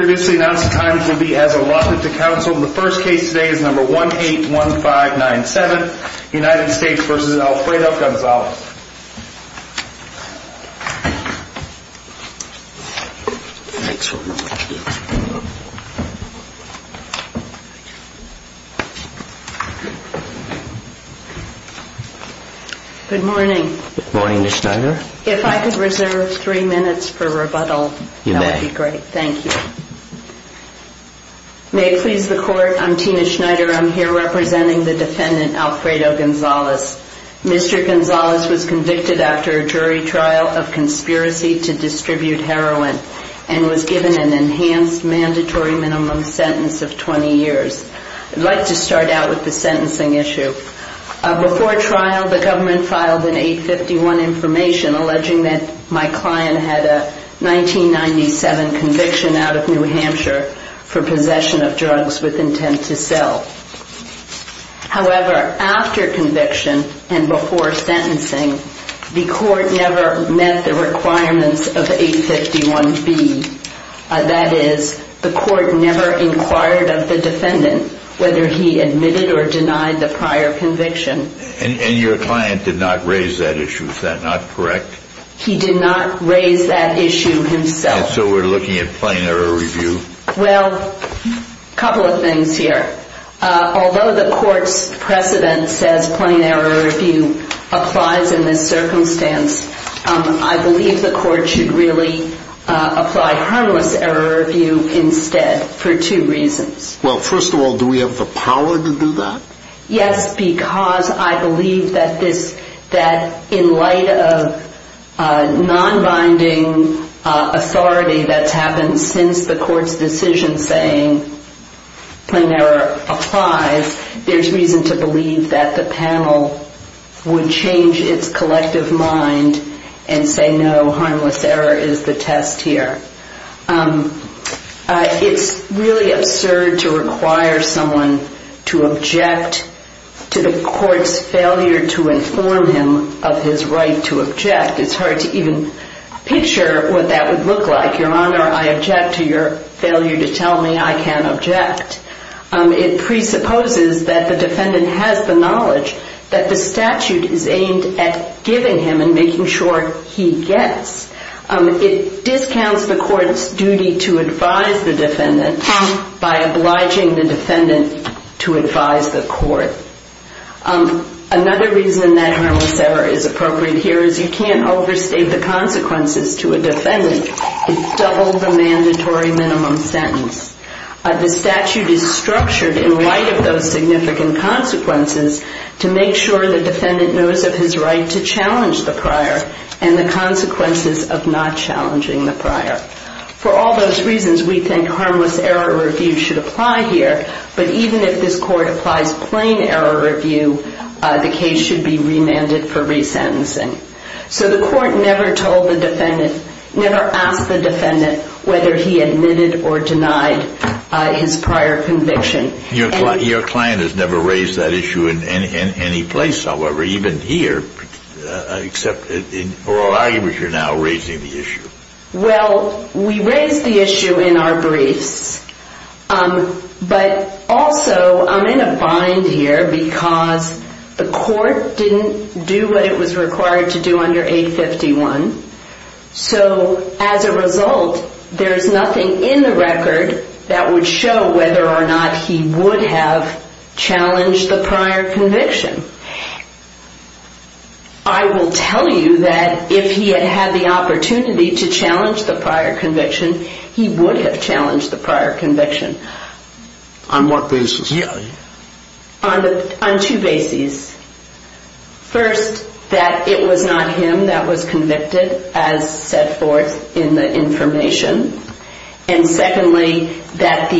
Good morning. If I could reserve three minutes for rebuttal, that would be great. Thank you. May it please the court, I'm Tina Schneider. I'm here representing the defendant Alfredo Gonzalez. Mr. Gonzalez was convicted after a jury trial of conspiracy to distribute heroin and was given an enhanced mandatory minimum sentence of 20 years. I'd like to start out with the sentencing issue. Before trial, the government filed an 851 information alleging that my client had a 1997 conviction out of which he was found guilty. However, after conviction and before sentencing, the court never met the requirements of 851B. That is, the court never inquired of the defendant whether he admitted or denied the prior conviction. And your client did not raise that issue, is that not correct? He did not raise that issue himself. And so we're looking at plain error review? Well, a couple of things here. Although the court's precedent says plain error review applies in this circumstance, I believe the court should really apply harmless error review instead for two reasons. Well, first of all, do we have the power to do that? Yes, because I believe that in light of non-binding authority that's happened since the court's decision saying plain error applies, there's reason to believe that the panel would change its collective mind and say no, harmless error is the test here. It's really absurd to require someone to object to the court's failure to inform him of his right to object. It's hard to even picture what that would look like. Your Honor, I object to your failure to tell me I can't object. It presupposes that the defendant has the knowledge that the statute is aimed at giving him and making sure he gets. It discounts the court's duty to advise the defendant by obliging the defendant to advise the court. Another reason that harmless error is appropriate here is you can't overstate the consequences to a defendant. It's double the mandatory minimum sentence. The statute is structured in light of those significant consequences to make sure the defendant knows of his right to challenge the prior and the consequences of not challenging the prior. For all those reasons, we think harmless error review should apply here, but even if this court applies plain error review, the case should be remanded for resentencing. So the court never asked the defendant whether he admitted or denied his prior conviction. Your client has never raised that issue in any place, however, even here, except in oral arguments you're now raising the issue. Well, we raised the issue in our briefs, but also I'm in a bind here because the court didn't do what it was required to do under 851. So as a result, there's nothing in the record that would show whether or not he would have challenged the prior conviction. I will tell you that if he had had the opportunity to challenge the prior conviction, he would have challenged the prior conviction. On what basis? On two bases. First, that it was not him that was convicted, as set forth in the information. And secondly, that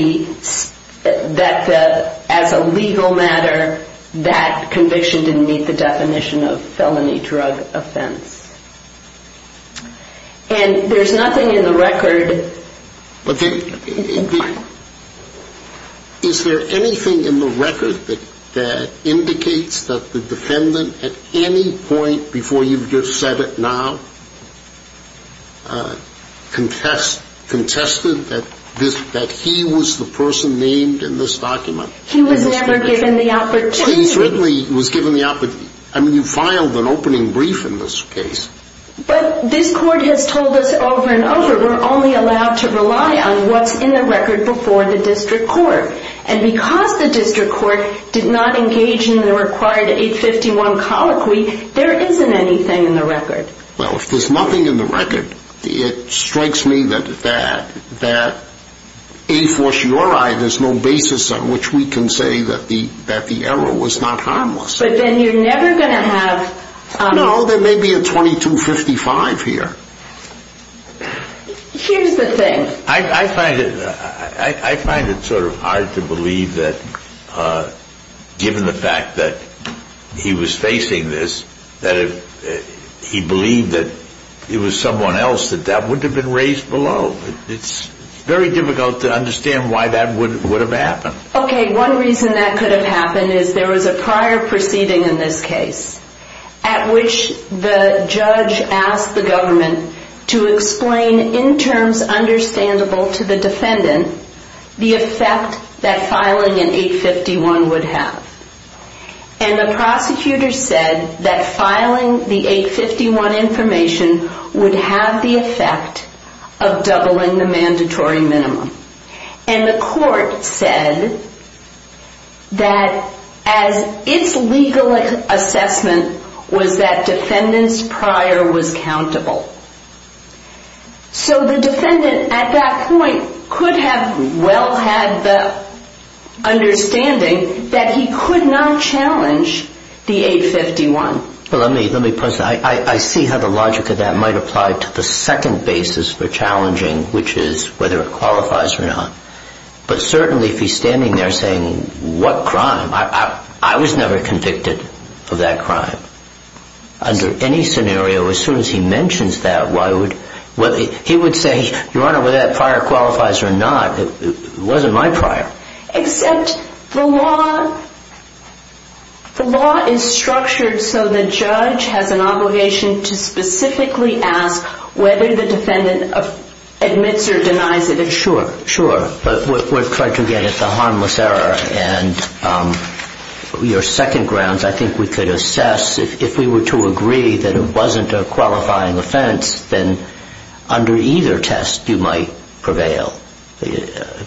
as a legal matter, that conviction didn't meet the definition of felony drug offense. And there's nothing in the record... Is there anything in the record that indicates that the defendant, at any point before you've just said it now, contested that he was the person named in this document? He was never given the opportunity. He certainly was given the opportunity. I mean, you filed an opening brief in this case. But this court has told us over and over, we're only allowed to rely on what's in the record before the district court. And because the district court did not engage in the required 851 colloquy, there isn't anything in the record. Well, if there's nothing in the record, it strikes me that a fortiori, there's no basis on which we can say that the error was not harmless. But then you're never going to have... No, there may be a 2255 here. Here's the thing. I find it sort of hard to believe that given the fact that he was facing this, that if he believed that it was someone else, that that wouldn't have been raised below. It's very difficult to understand why that would have happened. Okay, one reason that could have happened is there was a prior proceeding in this case at which the judge asked the government to explain in terms understandable to the defendant the effect that filing an 851 would have. And the prosecutor said that filing the 851 information would have the effect of doubling the mandatory minimum. And the court said that as its legal assessment was that defendant's prior was countable. So the defendant at that point could have well had the understanding that he could not challenge the 851. I see how the logic of that might apply to the second basis for challenging, which is whether it qualifies or not. But certainly if he's standing there saying what crime, I was never convicted of that crime. Under any scenario, as soon as he mentions that, he would say, Your Honor, whether that prior qualifies or not, it wasn't my prior. Except the law is structured so the judge has an obligation to specifically ask whether the defendant admits or denies it. Sure, sure. But we're trying to get at the harmless error. And your second grounds, I think we could assess if we were to agree that it wasn't a qualifying offense, then under either test you might prevail,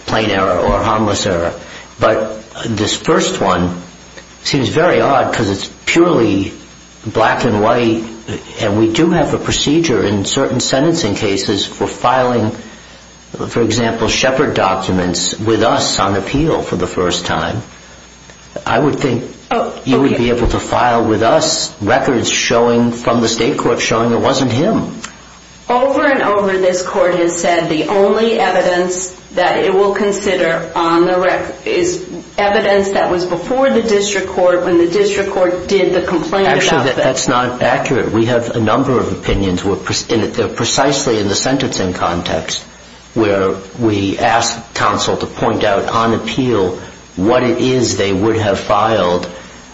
plain error or harmless error. But this first one seems very odd because it's purely black and white. And we do have a procedure in certain sentencing cases for filing, for example, Shepard documents with us on appeal for the first time. I would think you would be able to file with us records from the state court showing it wasn't him. Over and over, this court has said the only evidence that it will consider is evidence that was before the district court when the district court did the complaint about that. Actually, that's not accurate. We have a number of opinions precisely in the sentencing context where we ask counsel to point out on appeal what it is they would have filed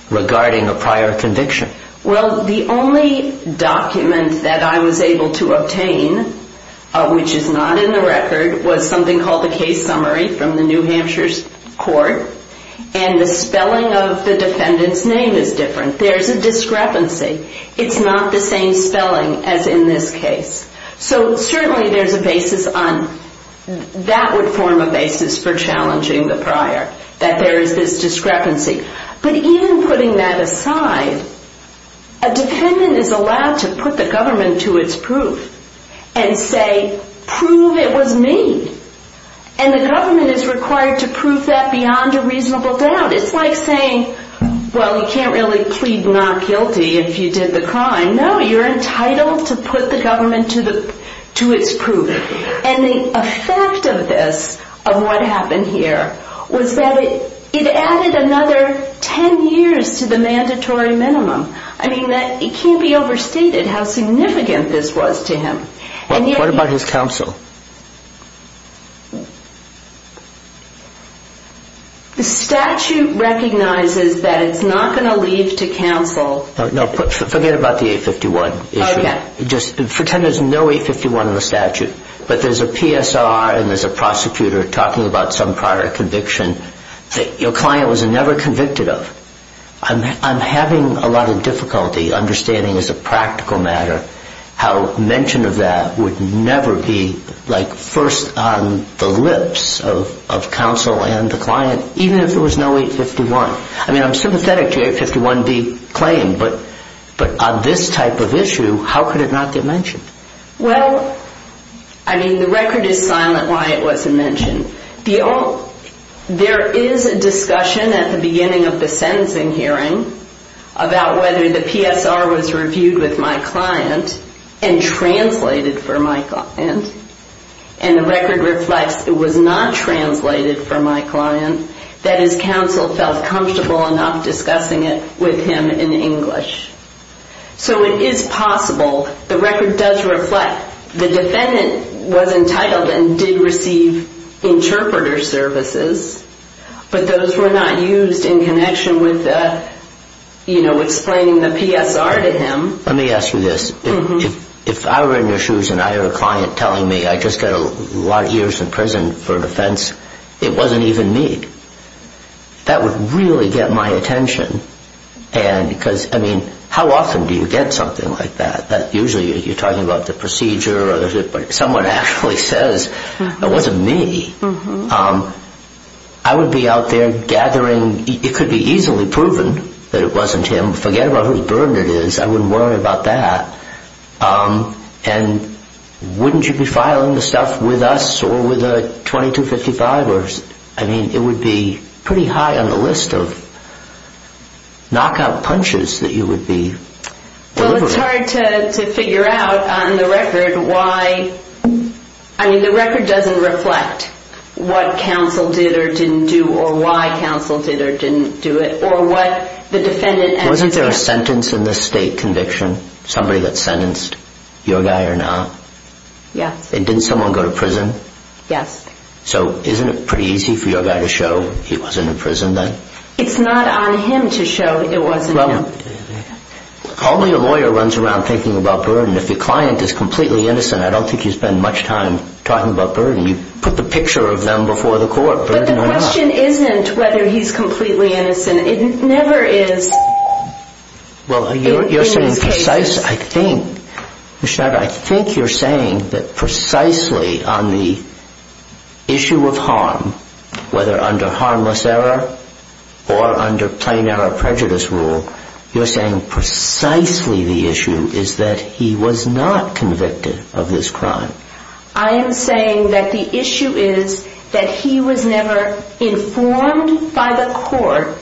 regarding a prior conviction. Well, the only document that I was able to obtain, which is not in the record, was something called the case summary from the New Hampshire court. And the spelling of the defendant's name is different. There is a discrepancy. It's not the same spelling as in this case. So certainly there's a basis on that would form a basis for challenging the prior, that there is this discrepancy. But even putting that aside, a defendant is allowed to put the government to its proof and say, prove it was me. And the government is required to prove that beyond a reasonable doubt. It's like saying, well, you can't really plead not guilty if you did the crime. No, you're entitled to put the government to its proof. And the effect of this, of what happened here, was that it added another 10 years to the mandatory minimum. I mean, it can't be overstated how significant this was to him. What about his counsel? The statute recognizes that it's not going to leave to counsel. No, forget about the 851 issue. Pretend there's no 851 in the statute, but there's a PSR and there's a prosecutor talking about some prior conviction that your client was never convicted of. I'm having a lot of difficulty understanding as a practical matter how mention of that would never be, like, first on the lips of counsel and the client, even if there was no 851. I mean, I'm sympathetic to the 851D claim, but on this type of issue, how could it not get mentioned? Well, I mean, the record is silent why it wasn't mentioned. There is a discussion at the beginning of the sentencing hearing about whether the PSR was reviewed with my client and translated for my client. And the record reflects it was not translated for my client. That is, counsel felt comfortable enough discussing it with him in English. So it is possible. The record does reflect the defendant was entitled and did receive interpreter services, but those were not used in connection with, you know, explaining the PSR to him. Let me ask you this. If I were in your shoes and I had a client telling me I just got a lot of years in prison for an offense, it wasn't even me, that would really get my attention. And because, I mean, how often do you get something like that? Usually you're talking about the procedure, but if someone actually says it wasn't me, I would be out there gathering. It could be easily proven that it wasn't him. Forget about whose burden it is. I wouldn't worry about that. And wouldn't you be filing the stuff with us or with a 2255? I mean, it would be pretty high on the list of knockout punches that you would be delivering. Well, it's hard to figure out on the record why. I mean, the record doesn't reflect what counsel did or didn't do or why counsel did or didn't do it or what the defendant actually did. Somebody that's sentenced, your guy or not? Yes. And didn't someone go to prison? Yes. So isn't it pretty easy for your guy to show he wasn't in prison then? It's not on him to show it wasn't him. Well, only a lawyer runs around thinking about burden. If the client is completely innocent, I don't think you spend much time talking about burden. You put the picture of them before the court. But the question isn't whether he's completely innocent. It never is. Well, you're saying precise. I think, Ms. Schneider, I think you're saying that precisely on the issue of harm, whether under harmless error or under plain error of prejudice rule, you're saying precisely the issue is that he was not convicted of this crime. I am saying that the issue is that he was never informed by the court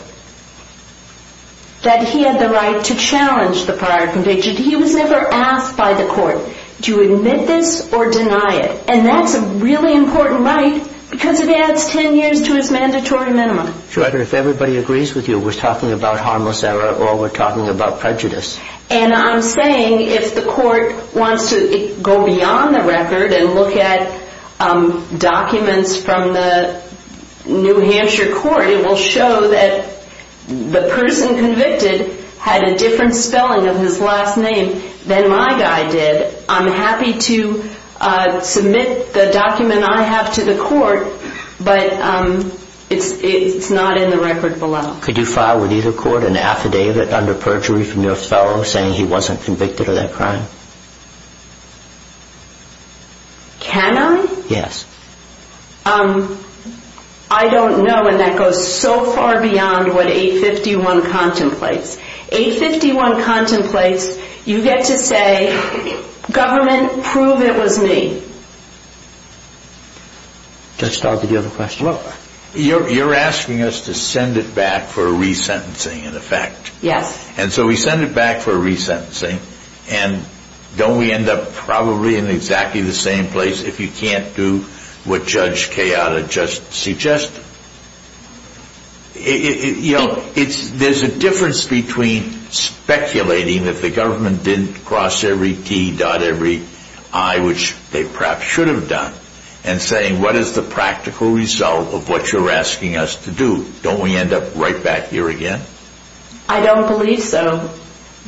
that he had the right to challenge the prior conviction. He was never asked by the court to admit this or deny it. And that's a really important right because it adds 10 years to his mandatory minimum. Sure. If everybody agrees with you, we're talking about harmless error or we're talking about prejudice. And I'm saying if the court wants to go beyond the record and look at documents from the New Hampshire court, it will show that the person convicted had a different spelling of his last name than my guy did. I'm happy to submit the document I have to the court, but it's not in the record below. Could you file with either court an affidavit under perjury from your fellow saying he wasn't convicted of that crime? Can I? Yes. I don't know, and that goes so far beyond what 851 contemplates. 851 contemplates, you get to say, government, prove it was me. Just start with the other question. You're asking us to send it back for a resentencing, in effect. Yes. And so we send it back for a resentencing, and don't we end up probably in exactly the same place if you can't do what Judge Kayada just suggested? You know, there's a difference between speculating that the government didn't cross every T, dot every I, which they perhaps should have done, and saying, what is the practical result of what you're asking us to do? Don't we end up right back here again? I don't believe so,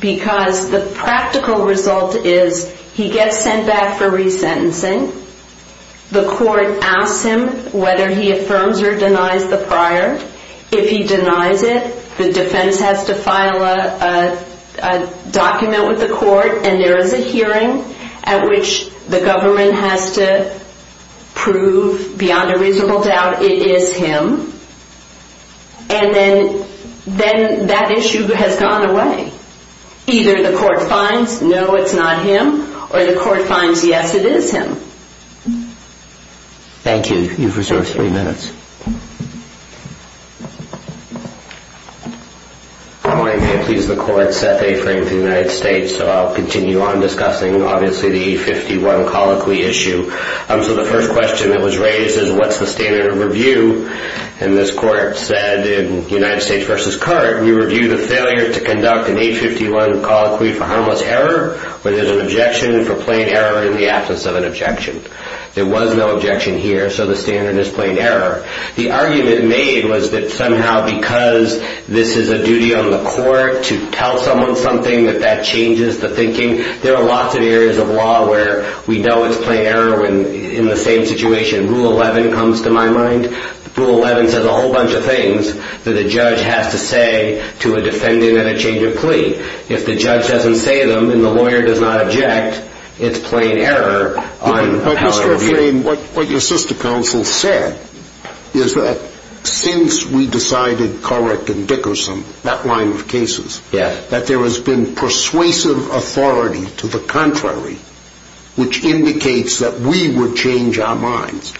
because the practical result is he gets sent back for resentencing. The court asks him whether he affirms or denies the prior. If he denies it, the defense has to file a document with the court, and there is a hearing at which the government has to prove beyond a reasonable doubt it is him, and then that issue has gone away. Either the court finds, no, it's not him, or the court finds, yes, it is him. Thank you. You've reserved three minutes. Good morning. May it please the court, Seth A. Frank of the United States. So I'll continue on discussing, obviously, the A51 colloquy issue. So the first question that was raised is, what's the standard of review? And this court said in United States v. Carte, we review the failure to conduct an A51 colloquy for harmless error, where there's an objection for plain error in the absence of an objection. There was no objection here, so the standard is plain error. The argument made was that somehow because this is a duty on the court to tell someone something, that that changes the thinking. There are lots of areas of law where we know it's plain error in the same situation. Rule 11 comes to my mind. Rule 11 says a whole bunch of things that a judge has to say to a defendant at a change of plea. If the judge doesn't say them and the lawyer does not object, it's plain error on how to review. What your sister counsel said is that since we decided Corrick and Dickerson, that line of cases, that there has been persuasive authority to the contrary, which indicates that we would change our minds.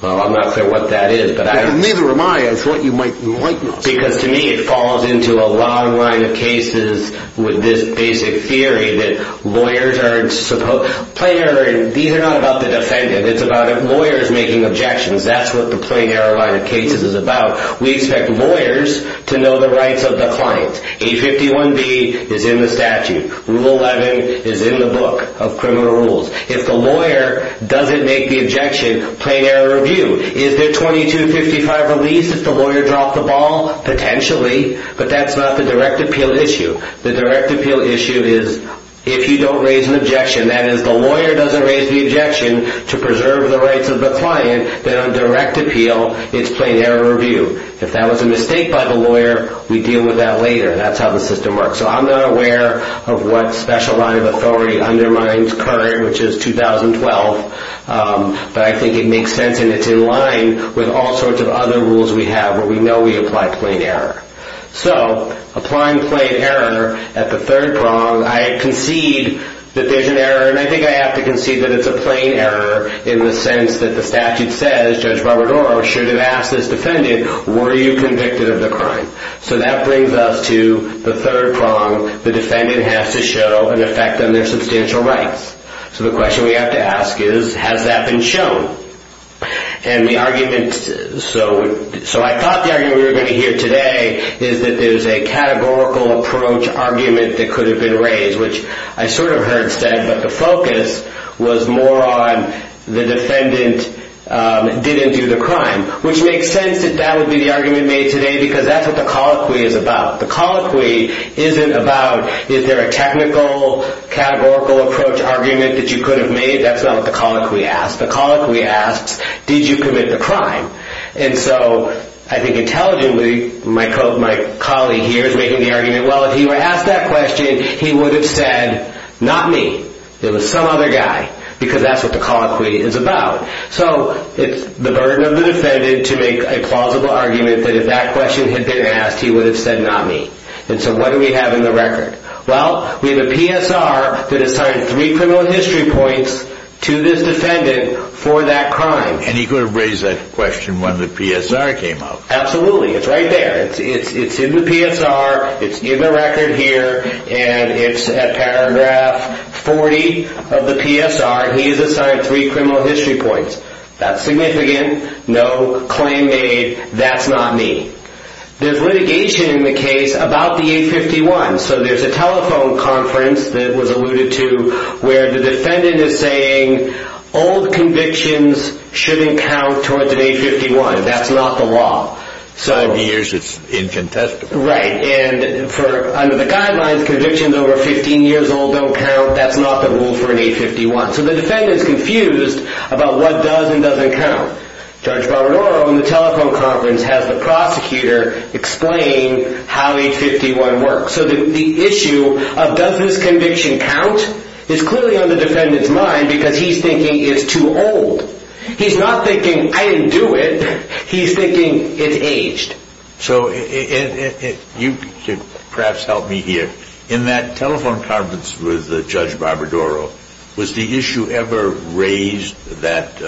Well, I'm not clear what that is. Neither am I. I thought you might enlighten us. Because to me it falls into a long line of cases with this basic theory that lawyers are supposed to, these are not about the defendant. It's about lawyers making objections. That's what the plain error line of cases is about. We expect lawyers to know the rights of the client. A51B is in the statute. Rule 11 is in the book of criminal rules. If the lawyer doesn't make the objection, plain error review. Is there 2255 release if the lawyer dropped the ball? Potentially, but that's not the direct appeal issue. The direct appeal issue is if you don't raise an objection, that is, the lawyer doesn't raise the objection to preserve the rights of the client, then on direct appeal it's plain error review. If that was a mistake by the lawyer, we deal with that later. That's how the system works. So I'm not aware of what special line of authority undermines current, which is 2012. But I think it makes sense and it's in line with all sorts of other rules we have where we know we apply plain error. So applying plain error at the third prong, I concede that there's an error, and I think I have to concede that it's a plain error in the sense that the statute says, Judge Robert Oro should have asked his defendant, were you convicted of the crime? So that brings us to the third prong. The defendant has to show an effect on their substantial rights. So the question we have to ask is, has that been shown? And the argument, so I thought the argument we were going to hear today is that there's a categorical approach argument that could have been raised, which I sort of heard said, but the focus was more on the defendant didn't do the crime, which makes sense that that would be the argument made today because that's what the colloquy is about. The colloquy isn't about is there a technical categorical approach argument that you could have made. That's not what the colloquy asks. The colloquy asks, did you commit the crime? And so I think intelligently, my colleague here is making the argument, well, if he were asked that question, he would have said, not me. It was some other guy because that's what the colloquy is about. So it's the burden of the defendant to make a plausible argument that if that question had been asked, he would have said, not me. And so what do we have in the record? Well, we have a PSR that assigned three criminal history points to this defendant for that crime. And he could have raised that question when the PSR came out. Absolutely. It's right there. It's in the PSR. It's in the record here. And it's at paragraph 40 of the PSR. He is assigned three criminal history points. That's significant. No claim made. That's not me. There's litigation in the case about the 851. So there's a telephone conference that was alluded to where the defendant is saying, old convictions shouldn't count towards an 851. That's not the law. In the years it's incontestable. Right. And under the guidelines, convictions over 15 years old don't count. That's not the rule for an 851. So the defendant is confused about what does and doesn't count. Judge Barbadaro in the telephone conference has the prosecutor explain how 851 works. So the issue of does this conviction count is clearly on the defendant's mind because he's thinking it's too old. He's not thinking, I didn't do it. He's thinking it's aged. So you could perhaps help me here. In that telephone conference with Judge Barbadaro, was the issue ever raised that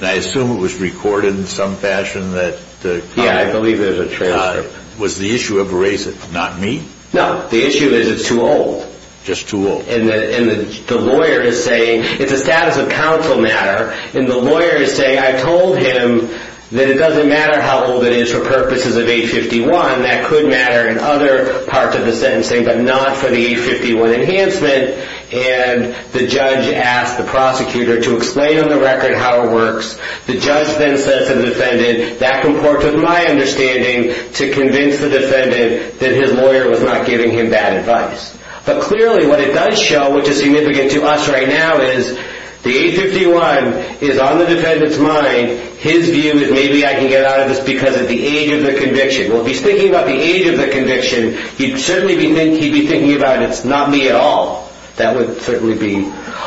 I assume it was recorded in some fashion? Yeah, I believe it was a transcript. Was the issue ever raised that it's not me? No. The issue is it's too old. Just too old. And the lawyer is saying it's a status of counsel matter. And the lawyer is saying I told him that it doesn't matter how old it is for purposes of 851. That could matter in other parts of the sentencing, but not for the 851 enhancement. And the judge asked the prosecutor to explain on the record how it works. The judge then says to the defendant, that comports with my understanding to convince the defendant that his lawyer was not giving him bad advice. But clearly what it does show, which is significant to us right now, is the 851 is on the defendant's mind. His view is maybe I can get out of this because of the age of the conviction. Well, if he's thinking about the age of the conviction, he'd certainly be thinking about it's not me at all. That would certainly be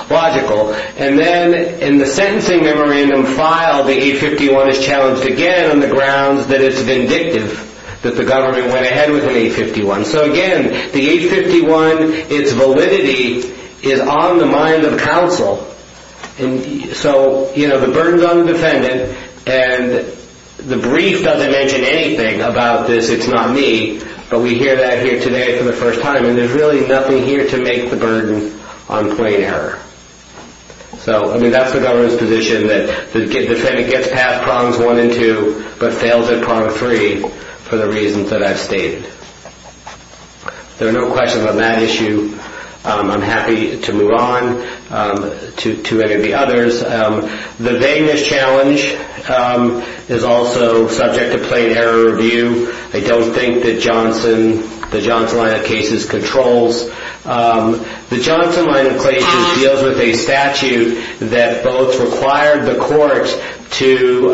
logical. And then in the sentencing memorandum file, the 851 is challenged again on the grounds that it's vindictive that the government went ahead with an 851. So again, the 851, its validity is on the mind of counsel. So the burden is on the defendant, and the brief doesn't mention anything about this, it's not me. But we hear that here today for the first time, and there's really nothing here to make the burden on plain error. So that's the government's position, that the defendant gets past prongs one and two, but fails at prong three for the reasons that I've stated. There are no questions on that issue. I'm happy to move on to any of the others. The vagueness challenge is also subject to plain error review. I don't think that the Johnson line of cases controls. The Johnson line of cases deals with a statute that both required the court to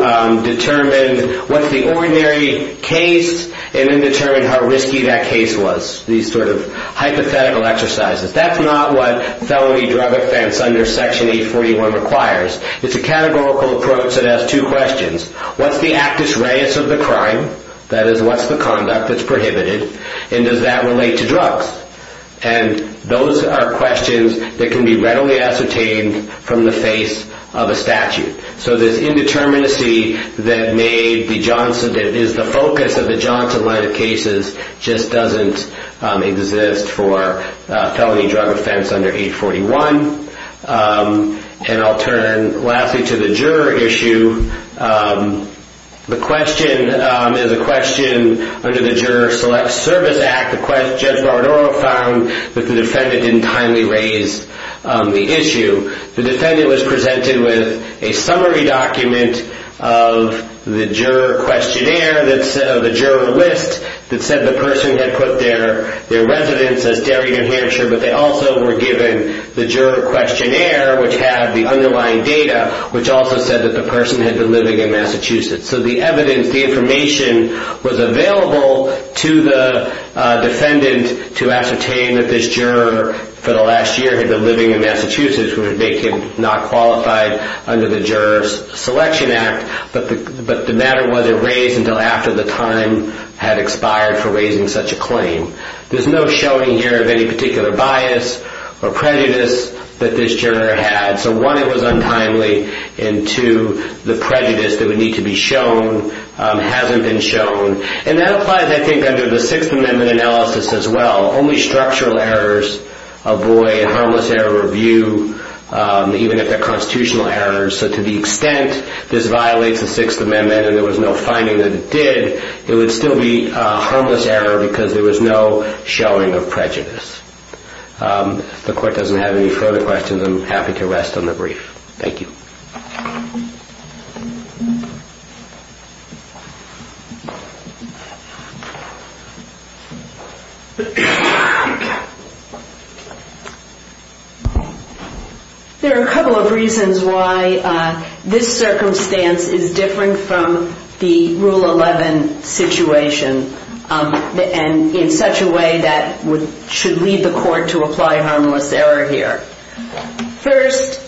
determine what's the ordinary case and then determine how risky that case was. These sort of hypothetical exercises. That's not what felony drug offense under Section 841 requires. It's a categorical approach that has two questions. What's the actus reus of the crime? That is, what's the conduct that's prohibited? And does that relate to drugs? And those are questions that can be readily ascertained from the face of a statute. So this indeterminacy that is the focus of the Johnson line of cases just doesn't exist for felony drug offense under 841. And I'll turn, lastly, to the juror issue. The question is a question under the Juror Select Service Act. Judge Baradaro found that the defendant didn't timely raise the issue. The defendant was presented with a summary document of the juror questionnaire of the juror list that said the person had put their residence as Derry, New Hampshire. But they also were given the juror questionnaire, which had the underlying data, which also said that the person had been living in Massachusetts. So the evidence, the information, was available to the defendant to ascertain that this juror for the last year had been living in Massachusetts, which would make him not qualified under the Juror Selection Act. But the matter wasn't raised until after the time had expired for raising such a claim. There's no showing here of any particular bias or prejudice that this juror had. So one, it was untimely. And two, the prejudice that would need to be shown hasn't been shown. And that applies, I think, under the Sixth Amendment analysis as well. Only structural errors avoid harmless error review, even if they're constitutional errors. So to the extent this violates the Sixth Amendment and there was no finding that it did, it would still be a harmless error because there was no showing of prejudice. If the court doesn't have any further questions, I'm happy to rest on the brief. Thank you. There are a couple of reasons why this circumstance is different from the Rule 11 situation and in such a way that should lead the court to apply harmless error here. First,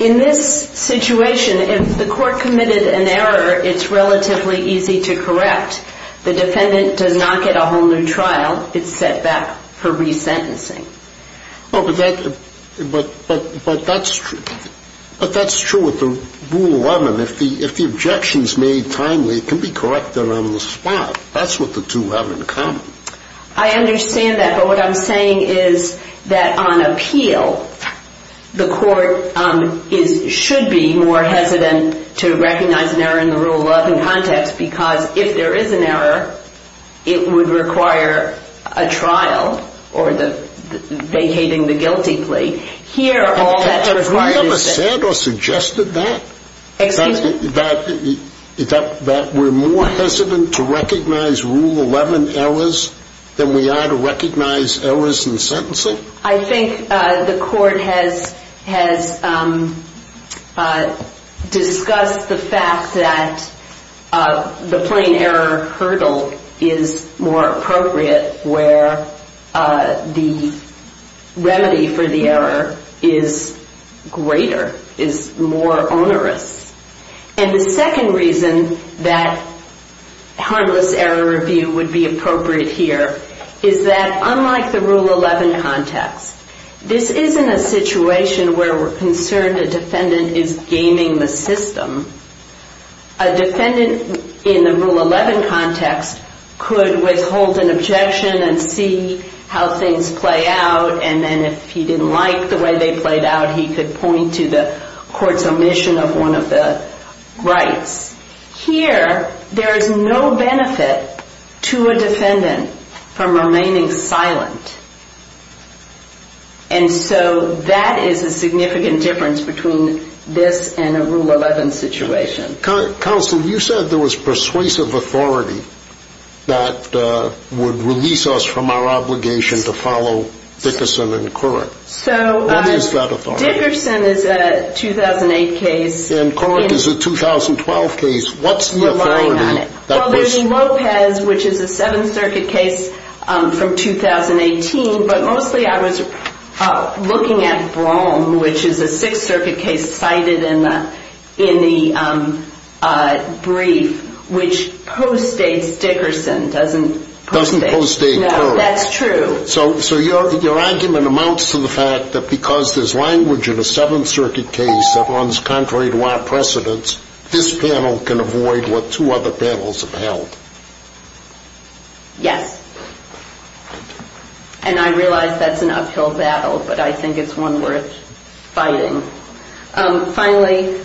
in this situation, if the court committed an error, it's relatively easy to correct. The defendant does not get a whole new trial. It's set back for resentencing. But that's true. But that's true with the Rule 11. If the objection's made timely, it can be corrected on the spot. That's what the two have in common. I understand that. But what I'm saying is that on appeal, the court should be more hesitant to recognize an error in the Rule 11 context because if there is an error, it would require a trial or vacating the guilty plea. Have we ever said or suggested that? Excuse me? That we're more hesitant to recognize Rule 11 errors than we are to recognize errors in sentencing? I think the court has discussed the fact that the plain error hurdle is more appropriate where the remedy for the error is greater, is more onerous. And the second reason that harmless error review would be appropriate here is that unlike the Rule 11 context, this isn't a situation where we're concerned a defendant is gaming the system. A defendant in the Rule 11 context could withhold an objection and see how things play out, and then if he didn't like the way they played out, he could point to the court's omission of one of the rights. Here, there is no benefit to a defendant from remaining silent. And so that is a significant difference between this and a Rule 11 situation. Counsel, you said there was persuasive authority that would release us from our obligation to follow Dickerson and Couric. What is that authority? Dickerson is a 2008 case. And Couric is a 2012 case. What's the authority? Well, there's Lopez, which is a Seventh Circuit case from 2018, but mostly I was looking at Brougham, which is a Sixth Circuit case cited in the brief, which postdates Dickerson. Doesn't postdate Couric. No, that's true. So your argument amounts to the fact that because there's language in a Seventh Circuit case that runs contrary to our precedents, this panel can avoid what two other panels have held. Yes. And I realize that's an uphill battle, but I think it's one worth fighting. Finally,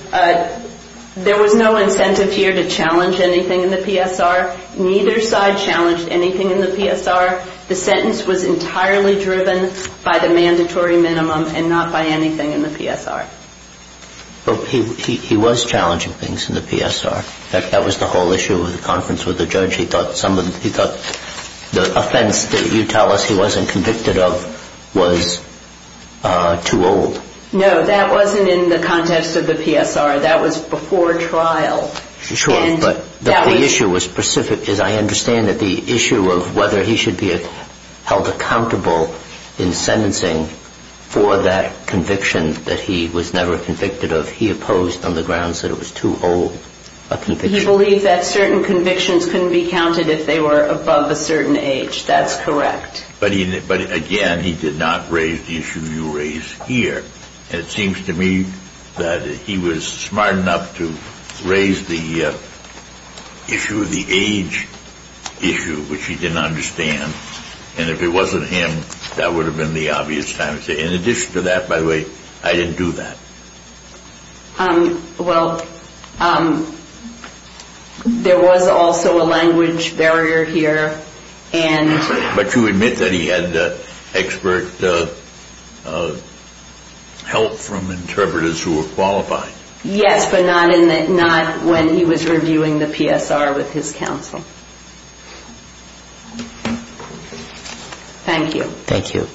there was no incentive here to challenge anything in the PSR. Neither side challenged anything in the PSR. The sentence was entirely driven by the mandatory minimum and not by anything in the PSR. He was challenging things in the PSR. That was the whole issue of the conference with the judge. He thought the offense that you tell us he wasn't convicted of was too old. No, that wasn't in the context of the PSR. That was before trial. Sure, but the issue was specific, as I understand it, the issue of whether he should be held accountable in sentencing for that conviction that he was never convicted of. He opposed on the grounds that it was too old a conviction. He believed that certain convictions couldn't be counted if they were above a certain age. That's correct. But again, he did not raise the issue you raise here. And it seems to me that he was smart enough to raise the issue, the age issue, which he didn't understand. And if it wasn't him, that would have been the obvious time to say, in addition to that, by the way, I didn't do that. Well, there was also a language barrier here. But you admit that he had expert help from interpreters who were qualified. Yes, but not when he was reviewing the PSR with his counsel. Thank you. Thank you.